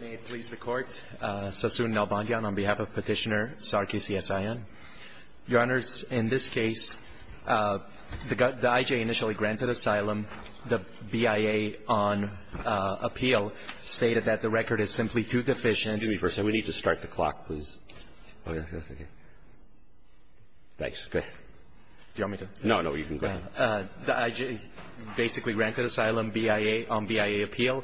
May it please the Court, Sassoon Nalbandian on behalf of Petitioner Sarkis Yasaian. Your Honors, in this case, the I.J. initially granted asylum. The B.I.A. on appeal stated that the record is simply too deficient. Excuse me for a second. We need to start the clock, please. Thanks. Go ahead. Do you want me to? No, no. You can go ahead. The I.J. basically granted asylum on B.I.A. appeal.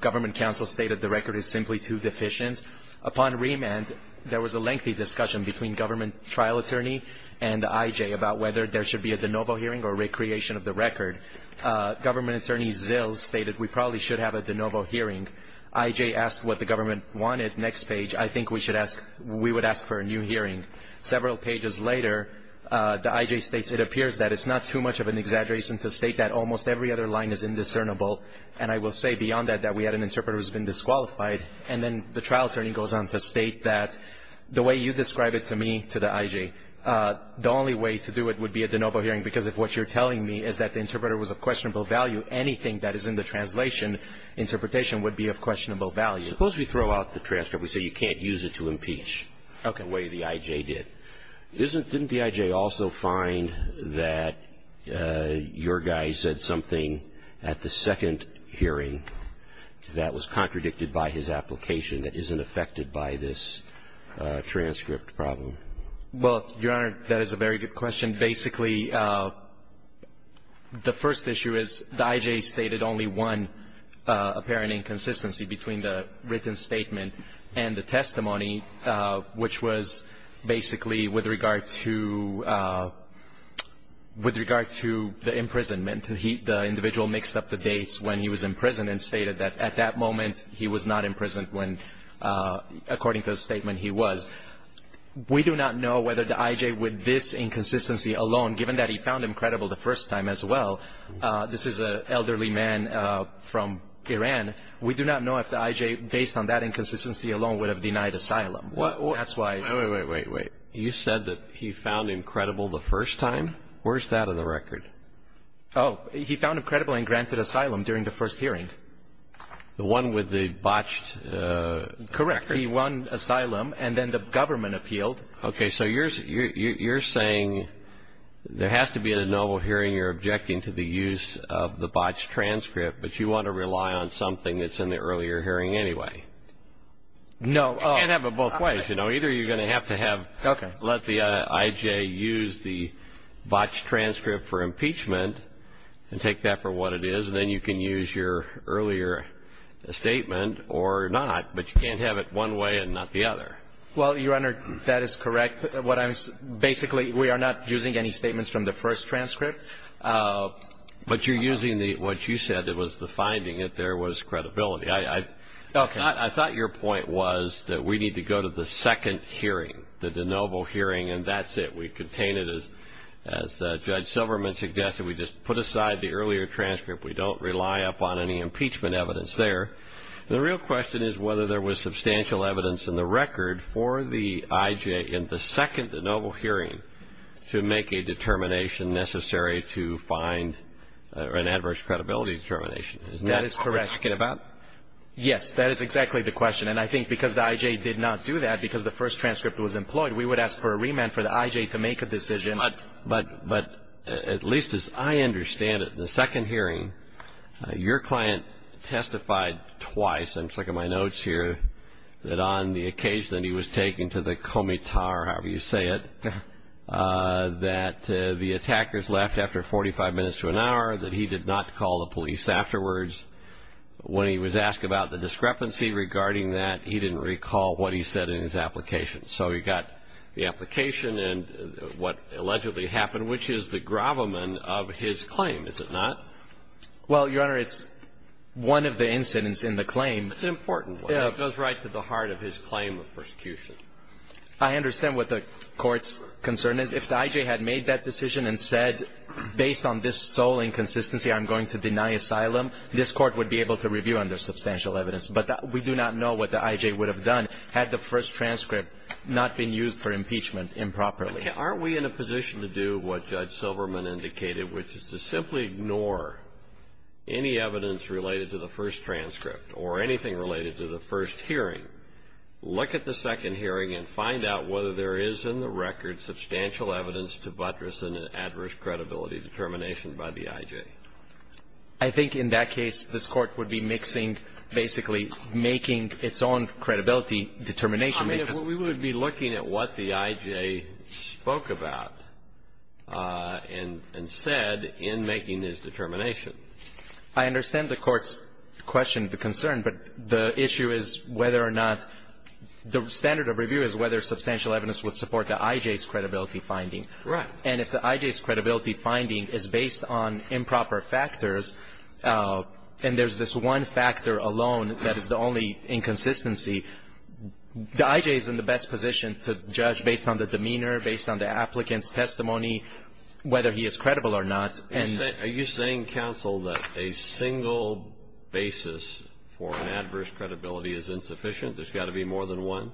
Government counsel stated the record is simply too deficient. Upon remand, there was a lengthy discussion between government trial attorney and the I.J. about whether there should be a de novo hearing or a recreation of the record. Government attorney Zills stated we probably should have a de novo hearing. I.J. asked what the government wanted. Next page, I think we would ask for a new hearing. Several pages later, the I.J. states, it appears that it's not too much of an exaggeration to state that almost every other line is indiscernible, and I will say beyond that that we had an interpreter who has been disqualified. And then the trial attorney goes on to state that the way you describe it to me, to the I.J., the only way to do it would be a de novo hearing, because if what you're telling me is that the interpreter was of questionable value, anything that is in the translation interpretation would be of questionable value. Suppose we throw out the transcript. We say you can't use it to impeach the way the I.J. did. Didn't the I.J. also find that your guy said something at the second hearing that was contradicted by his application that isn't affected by this transcript problem? Well, Your Honor, that is a very good question. Basically, the first issue is the I.J. stated only one apparent inconsistency between the written statement and the testimony, which was basically with regard to the imprisonment. The individual mixed up the dates when he was in prison and stated that at that moment he was not in prison when, according to the statement, he was. We do not know whether the I.J. with this inconsistency alone, given that he found him credible the first time as well, this is an elderly man from Iran. We do not know if the I.J., based on that inconsistency alone, would have denied asylum. That's why. Wait, wait, wait, wait. You said that he found him credible the first time? Where's that on the record? Oh, he found him credible and granted asylum during the first hearing. The one with the botched record? Correct. He won asylum, and then the government appealed. Okay. So you're saying there has to be at a noble hearing you're objecting to the use of the botched transcript, but you want to rely on something that's in the earlier hearing anyway? No. You can't have it both ways. Either you're going to have to have let the I.J. use the botched transcript for impeachment and take that for what it is, and then you can use your earlier statement or not, but you can't have it one way and not the other. Well, Your Honor, that is correct. Basically, we are not using any statements from the first transcript. But you're using what you said was the finding that there was credibility. Okay. I thought your point was that we need to go to the second hearing, the de novo hearing, and that's it. We contain it as Judge Silverman suggested. We just put aside the earlier transcript. We don't rely upon any impeachment evidence there. The real question is whether there was substantial evidence in the record for the I.J. in the second de novo hearing to make a determination necessary to find an adverse credibility determination. That is correct. Isn't that what we're talking about? Yes. That is exactly the question. And I think because the I.J. did not do that, because the first transcript was employed, we would ask for a remand for the I.J. to make a decision. But at least as I understand it, the second hearing, your client testified twice, I'm checking my notes here, that on the occasion that he was taken to the comitar, however you say it, that the attackers left after 45 minutes to an hour, that he did not call the police afterwards. When he was asked about the discrepancy regarding that, he didn't recall what he said in his application. So he got the application and what allegedly happened, which is the gravamen of his claim, is it not? Well, Your Honor, it's one of the incidents in the claim. It's an important one. It goes right to the heart of his claim of persecution. I understand what the Court's concern is. If the I.J. had made that decision and said, based on this sole inconsistency, I'm going to deny asylum, this Court would be able to review under substantial evidence, but we do not know what the I.J. would have done had the first transcript not been used for impeachment improperly. Aren't we in a position to do what Judge Silverman indicated, which is to simply ignore any evidence related to the first transcript or anything related to the first hearing, look at the second hearing, and find out whether there is in the record substantial evidence to buttress an adverse credibility determination by the I.J.? I think in that case, this Court would be mixing, basically making its own credibility determination. I mean, if we would be looking at what the I.J. spoke about and said in making this determination. I understand the Court's question, the concern, but the issue is whether or not the standard of review is whether substantial evidence would support the I.J.'s credibility finding. Right. And if the I.J.'s credibility finding is based on improper factors, and there's this one factor alone that is the only inconsistency, the I.J. is in the best position to judge based on the demeanor, based on the applicant's testimony, whether he is credible or not. Are you saying, counsel, that a single basis for an adverse credibility is insufficient? There's got to be more than one?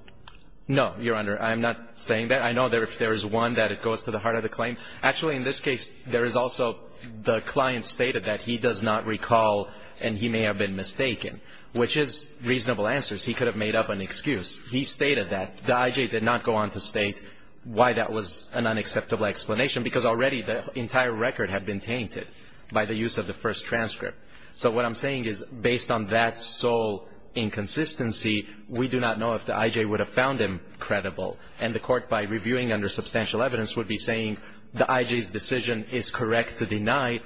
No, Your Honor. I'm not saying that. I know there is one that goes to the heart of the claim. Actually, in this case, there is also the client stated that he does not recall and he may have been mistaken, which is reasonable answers. He could have made up an excuse. He stated that. The I.J. did not go on to state why that was an unacceptable explanation, because already the entire record had been tainted by the use of the first transcript. So what I'm saying is, based on that sole inconsistency, we do not know if the I.J. would have found him credible. And the Court, by reviewing under substantial evidence, would be saying the I.J.'s decision is correct to deny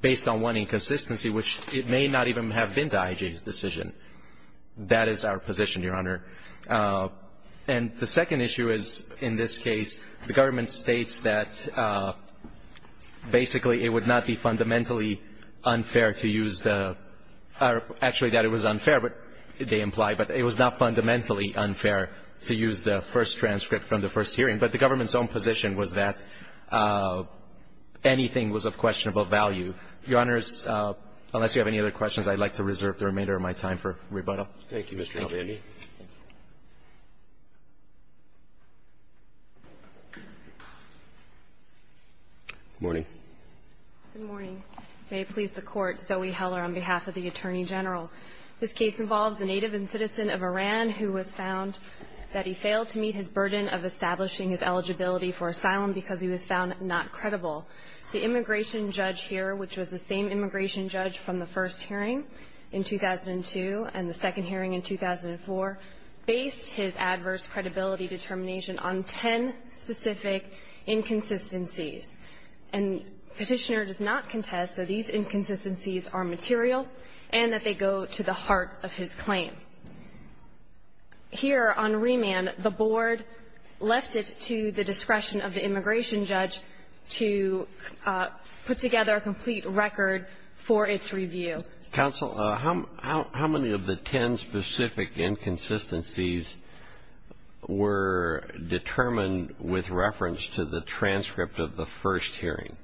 based on one inconsistency, which it may not even have been the I.J.'s decision. That is our position, Your Honor. And the second issue is, in this case, the government states that basically it would not be fundamentally unfair to use the or actually that it was unfair, they imply, but it was not fundamentally unfair to use the first transcript from the first hearing. But the government's own position was that anything was of questionable value. Your Honors, unless you have any other questions, I'd like to reserve the remainder of my time for rebuttal. Thank you, Mr. Alvandi. Good morning. Good morning. May it please the Court, Zoe Heller on behalf of the Attorney General. This case involves a native and citizen of Iran who was found that he failed to meet his burden of establishing his eligibility for asylum because he was found not credible. The immigration judge here, which was the same immigration judge from the first hearing in 2002 and the second hearing in 2004, based his adverse credibility determination on ten specific inconsistencies. And Petitioner does not contest that these inconsistencies are material and that they go to the heart of his claim. Here on remand, the board left it to the discretion of the immigration judge to put together a complete record for its review. Counsel, how many of the ten specific inconsistencies were determined with reference to the transcript of the first hearing?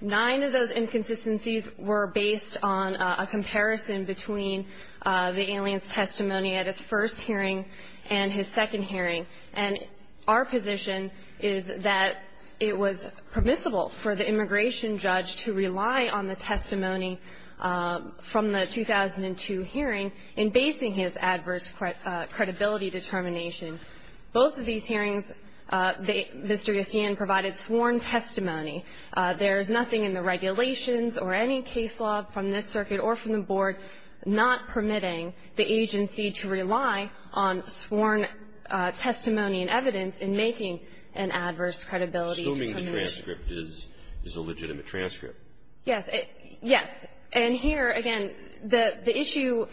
Nine of those inconsistencies were based on a comparison between the alien's testimony at his first hearing and his second hearing. And our position is that it was permissible for the immigration judge to rely on the testimony from the 2002 hearing in basing his adverse credibility determination. Both of these hearings, Mr. Yossian provided sworn testimony. There is nothing in the regulations or any case law from this circuit or from the board not permitting the agency to rely on sworn testimony and evidence in making an adverse credibility determination. Assuming the transcript is a legitimate transcript. Yes. Yes. And here, again, the issue,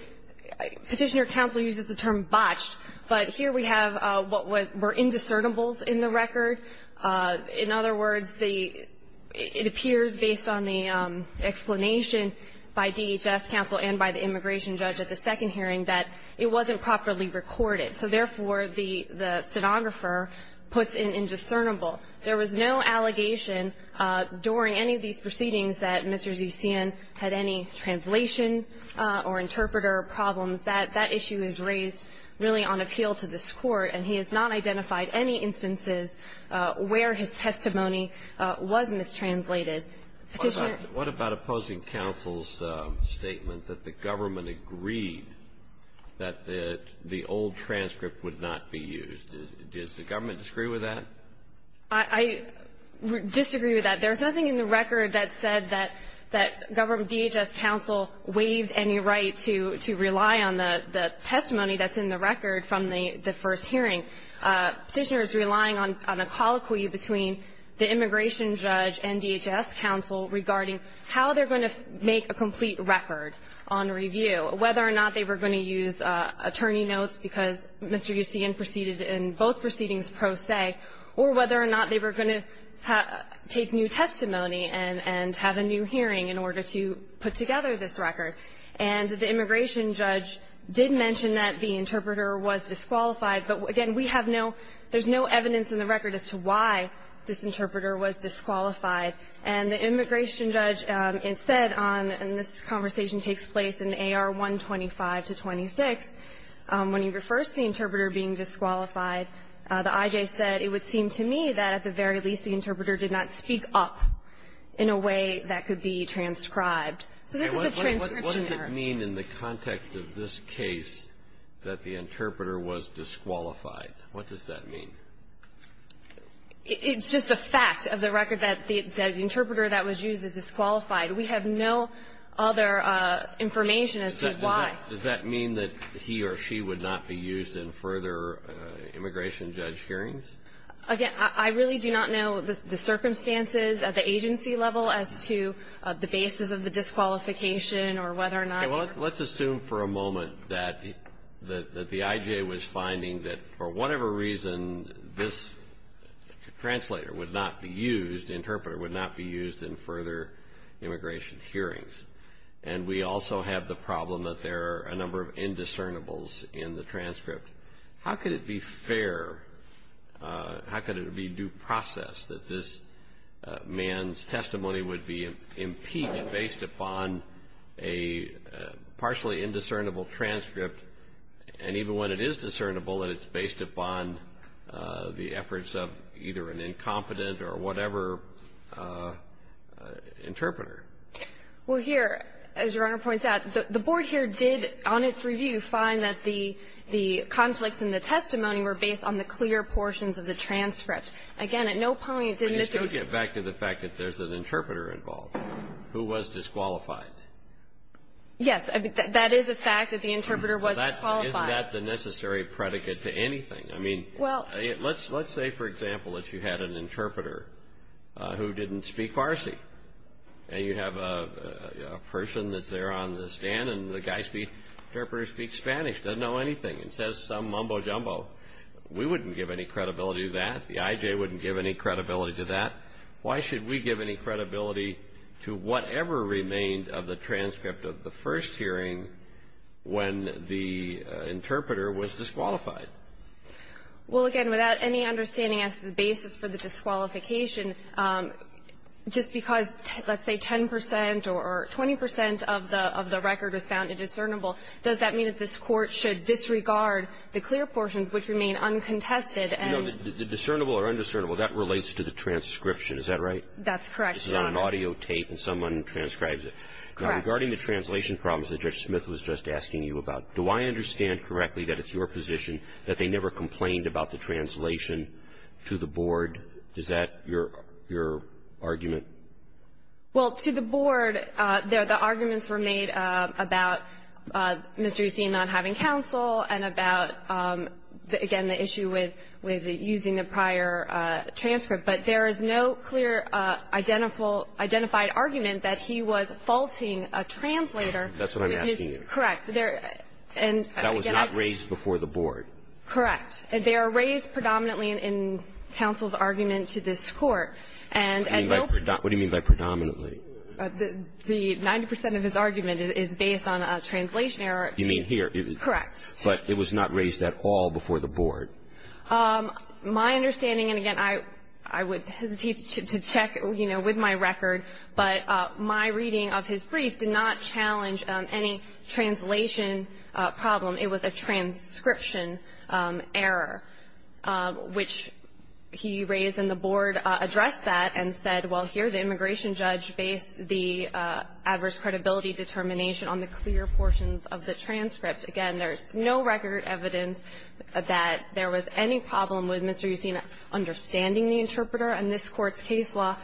Petitioner counsel uses the term botched, but here we have what were indiscernible in the record. In other words, it appears based on the explanation by DHS counsel and by the immigration judge at the second hearing that it wasn't properly recorded. So therefore, the stenographer puts in indiscernible. There was no allegation during any of these proceedings that Mr. Yossian had any translation or interpreter problems. That issue is raised really on appeal to this Court, and he has not identified any instances where his testimony was mistranslated. Petitioner? What about opposing counsel's statement that the government agreed that the old transcript would not be used? Does the government disagree with that? I disagree with that. There's nothing in the record that said that DHS counsel waived any right to rely on the testimony that's in the record from the first hearing. Petitioner is relying on a colloquy between the immigration judge and DHS counsel regarding how they're going to make a complete record on review, whether or not they were going to use attorney notes because Mr. Yossian proceeded in both proceedings pro se, or whether or not they were going to take new testimony and have a new hearing in order to put together this record. And the immigration judge did mention that the interpreter was disqualified, but again, we have no – there's no evidence in the record as to why this interpreter was disqualified. And the immigration judge said on – and this conversation takes place in AR 125-26 when he refers to the interpreter being disqualified, the IJ said, it would seem to me that at the very least the interpreter did not speak up in a way that could be transcribed. So this is a transcription error. And what does it mean in the context of this case that the interpreter was disqualified? What does that mean? It's just a fact of the record that the interpreter that was used is disqualified. We have no other information as to why. And does that mean that he or she would not be used in further immigration judge hearings? Again, I really do not know the circumstances at the agency level as to the basis of the disqualification or whether or not – Okay. Well, let's assume for a moment that the IJ was finding that for whatever reason this translator would not be used, interpreter would not be used in further immigration hearings. And we also have the problem that there are a number of indiscernibles in the transcript. How could it be fair, how could it be due process that this man's testimony would be impeached based upon a partially indiscernible transcript, and even when it is discernible that it's based upon the efforts of either an incompetent or whatever interpreter? Well, here, as Your Honor points out, the Board here did, on its review, find that the conflicts in the testimony were based on the clear portions of the transcript. Again, at no point did Mr. – Can you still get back to the fact that there's an interpreter involved who was disqualified? Yes. That is a fact that the interpreter was disqualified. Isn't that the necessary predicate to anything? I mean, let's say, for example, that you had an interpreter who didn't speak Farsi, and you have a person that's there on the stand, and the guy's interpreter speaks Spanish, doesn't know anything, and says some mumbo jumbo. We wouldn't give any credibility to that. The IJ wouldn't give any credibility to that. Why should we give any credibility to whatever remained of the transcript of the first hearing when the interpreter was disqualified? Well, again, without any understanding as to the basis for the disqualification, just because, let's say, 10 percent or 20 percent of the record was found indiscernible, does that mean that this Court should disregard the clear portions which remain uncontested? No. The discernible or undiscernible, that relates to the transcription. Is that right? That's correct, Your Honor. This is on an audio tape, and someone transcribes it. Correct. Now, regarding the translation problems that Judge Smith was just asking you about, do I understand correctly that it's your position that they never complained about the translation to the board? Is that your argument? Well, to the board, the arguments were made about Mr. Eustin not having counsel and about, again, the issue with using the prior transcript. But there is no clear identified argument that he was faulting a translator. That's what I'm asking you. Correct. That was not raised before the board. Correct. They are raised predominantly in counsel's argument to this Court. What do you mean by predominantly? The 90 percent of his argument is based on a translation error. You mean here. Correct. But it was not raised at all before the board. My understanding, and again, I would hesitate to check, you know, with my record, but my reading of his brief did not challenge any translation problem. It was a transcription error, which he raised and the board addressed that and said, well, here the immigration judge based the adverse credibility determination on the clear portions of the transcript. Again, there is no record evidence that there was any problem with Mr. Eustin understanding the interpreter. And this Court's case law,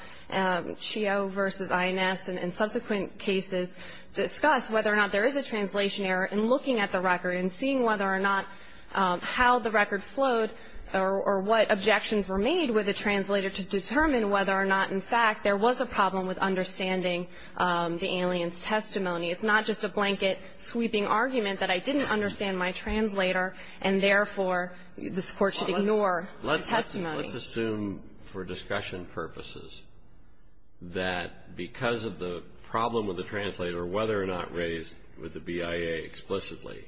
Chio v. INS, in subsequent cases discussed whether or not there is a translation error in looking at the record and seeing whether or not how the record flowed or what objections were made with the translator to determine whether or not, in fact, there was a problem with understanding the alien's testimony. It's not just a blanket sweeping argument that I didn't understand my translator and, therefore, this Court should ignore the testimony. Let's assume for discussion purposes that because of the problem with the translator, whether or not raised with the BIA explicitly,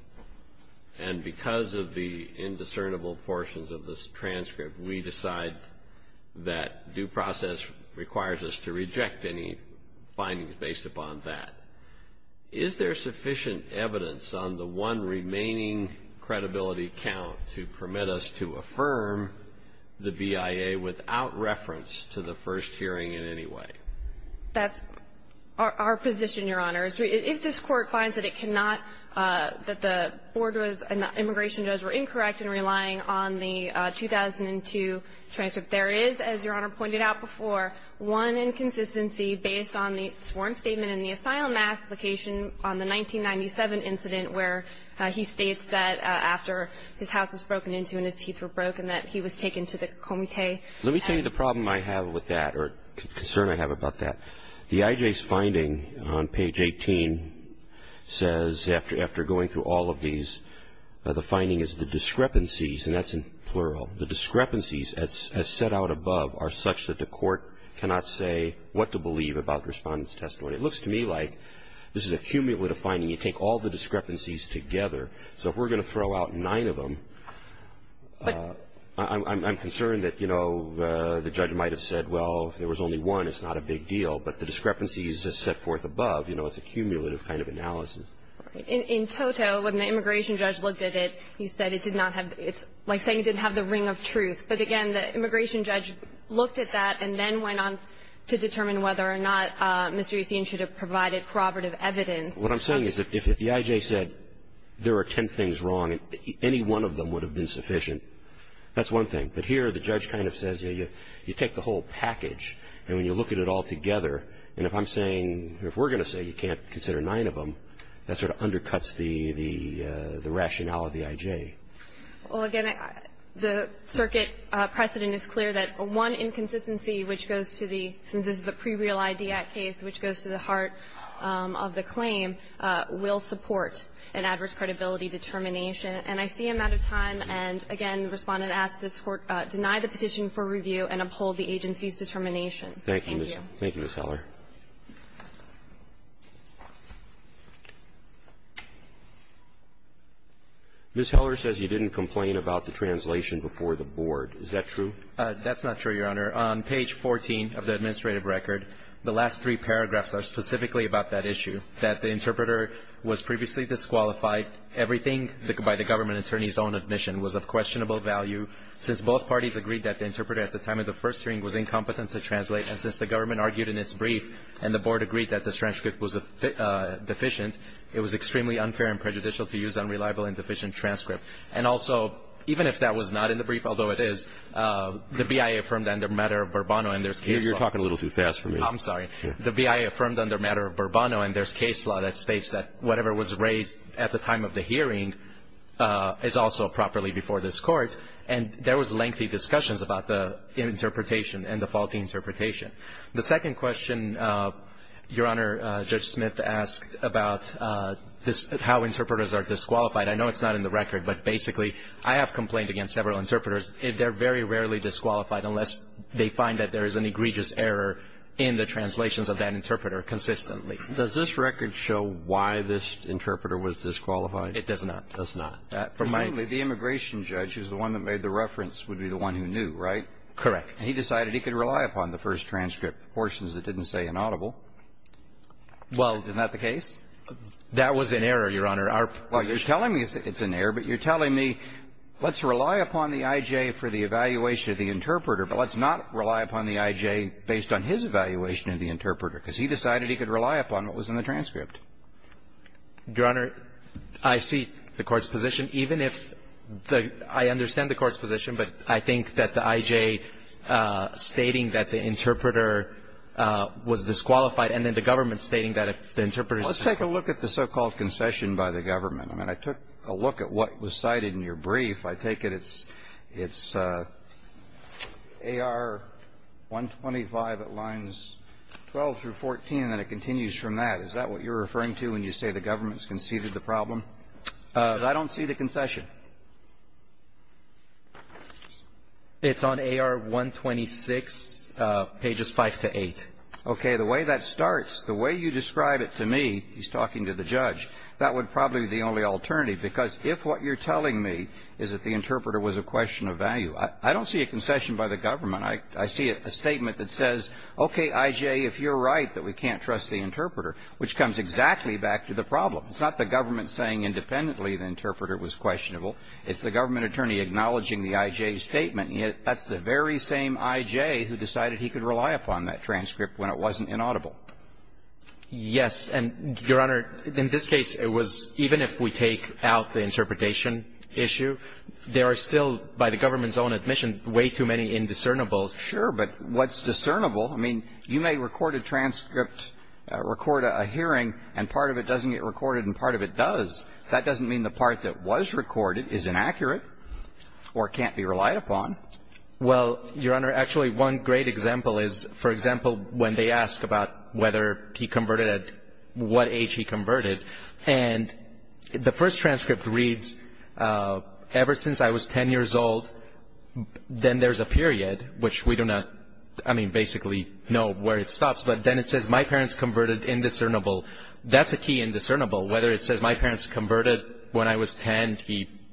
and because of the indiscernible portions of this transcript, we decide that due process requires us to reject any findings based upon that. Is there sufficient evidence on the one remaining credibility count to permit us to affirm the BIA without reference to the first hearing in any way? That's our position, Your Honor. If this Court finds that it cannot, that the board was and the immigration jurors were incorrect in relying on the 2002 transcript, there is, as Your Honor pointed out before, one inconsistency based on the sworn statement in the asylum application on the 1997 incident where he states that after his house was broken into and his teeth were broken, that he was taken to the comité. Let me tell you the problem I have with that or concern I have about that. The IJ's finding on page 18 says, after going through all of these, the finding is the discrepancies, and that's in plural, the discrepancies as set out above are such that the Court cannot say what to believe about Respondent's testimony. It looks to me like this is a cumulative finding. You take all the discrepancies together. So if we're going to throw out nine of them, I'm concerned that, you know, the judge might have said, well, if there was only one, it's not a big deal. But the discrepancies as set forth above, you know, it's a cumulative kind of analysis. In toto, when the immigration judge looked at it, he said it did not have the ring of truth. But, again, the immigration judge looked at that and then went on to determine whether or not Mr. Yacine should have provided corroborative evidence. What I'm saying is if the IJ said there are ten things wrong, any one of them would have been sufficient. That's one thing. But here the judge kind of says, you take the whole package, and when you look at it all together, and if I'm saying, if we're going to say you can't consider nine of them, that sort of undercuts the rationale of the IJ. Well, again, the circuit precedent is clear that one inconsistency which goes to the heart of the claim will support an adverse credibility determination. And I see a matter of time, and, again, the Respondent asks this Court to deny the petition for review and uphold the agency's determination. Thank you. Roberts. Thank you, Ms. Heller. Ms. Heller says you didn't complain about the translation before the board. Is that true? That's not true, Your Honor. On page 14 of the administrative record, the last three paragraphs are specifically about that issue, that the interpreter was previously disqualified, everything by the government attorney's own admission was of questionable value, since both parties agreed that the interpreter at the time of the first hearing was incompetent to translate, and since the government argued in its brief and the board agreed that this transcript was deficient, it was extremely unfair and prejudicial to use unreliable and deficient transcript. And also, even if that was not in the brief, although it is, the BIA affirmed under matter of Bourbonno and there's case law. You're talking a little too fast for me. I'm sorry. The BIA affirmed under matter of Bourbonno and there's case law that states that whatever was raised at the time of the hearing is also properly before this Court, and there was lengthy discussions about the interpretation and the faulty interpretation. The second question, Your Honor, Judge Smith asked about how interpreters are disqualified. I know it's not in the record, but basically I have complained against several interpreters. They're very rarely disqualified unless they find that there is an egregious error in the translations of that interpreter consistently. Does this record show why this interpreter was disqualified? It does not. It does not. Presumably, the immigration judge is the one that made the reference would be the one who knew, right? Correct. And he decided he could rely upon the first transcript, portions that didn't say inaudible. Well, isn't that the case? That was an error, Your Honor. Well, you're telling me it's an error, but you're telling me let's rely upon the I.J. for the evaluation of the interpreter, but let's not rely upon the I.J. based on his evaluation of the interpreter, because he decided he could rely upon what was in the transcript. Your Honor, I see the Court's position, even if the – I understand the Court's position, but I think that the I.J. stating that the interpreter was disqualified and then the government stating that if the interpreter is disqualified. Let's take a look at the so-called concession by the government. I mean, I took a look at what was cited in your brief. I take it it's AR-125 at lines 12 through 14, and it continues from that. Is that what you're referring to when you say the government has conceded the problem? I don't see the concession. It's on AR-126, pages 5 to 8. Okay. The way that starts, the way you describe it to me, he's talking to the judge, that would probably be the only alternative, because if what you're telling me is that the interpreter was a question of value, I don't see a concession by the government. I see a statement that says, okay, I.J., if you're right that we can't trust the interpreter, which comes exactly back to the problem. It's not the government saying independently the interpreter was questionable. It's the government attorney acknowledging the I.J. statement. And yet that's the very same I.J. who decided he could rely upon that transcript when it wasn't inaudible. Yes. And, Your Honor, in this case, it was even if we take out the interpretation issue, there are still, by the government's own admission, way too many indiscernible. Sure. But what's discernible, I mean, you may record a transcript, record a hearing, and part of it doesn't get recorded and part of it does. That doesn't mean the part that was recorded is inaccurate or can't be relied upon. Well, Your Honor, actually one great example is, for example, when they ask about whether he converted, at what age he converted. And the first transcript reads, ever since I was 10 years old, then there's a period, which we do not, I mean, basically know where it stops. But then it says my parents converted indiscernible. That's a key indiscernible, whether it says my parents converted when I was 10.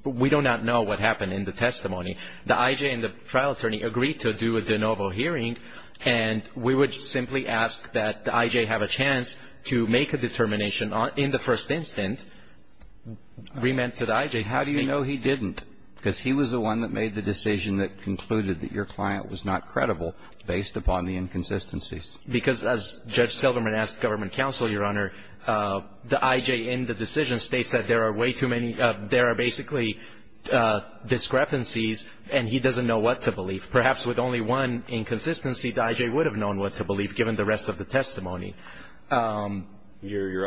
We do not know what happened in the testimony. The I.J. and the trial attorney agreed to do a de novo hearing, and we would simply ask that the I.J. have a chance to make a determination in the first instance. We meant to the I.J. How do you know he didn't? Because he was the one that made the decision that concluded that your client was not credible based upon the inconsistencies. Because as Judge Silverman asked government counsel, Your Honor, the I.J. in the decision states that there are way too many, there are basically discrepancies, and he doesn't know what to believe. Perhaps with only one inconsistency, the I.J. would have known what to believe given the rest of the testimony. You're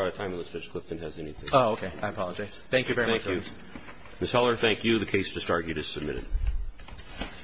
out of time unless Judge Clifton has anything. Oh, okay. I apologize. Thank you very much, Judge. Thank you. Ms. Heller, thank you. The case discarded is submitted.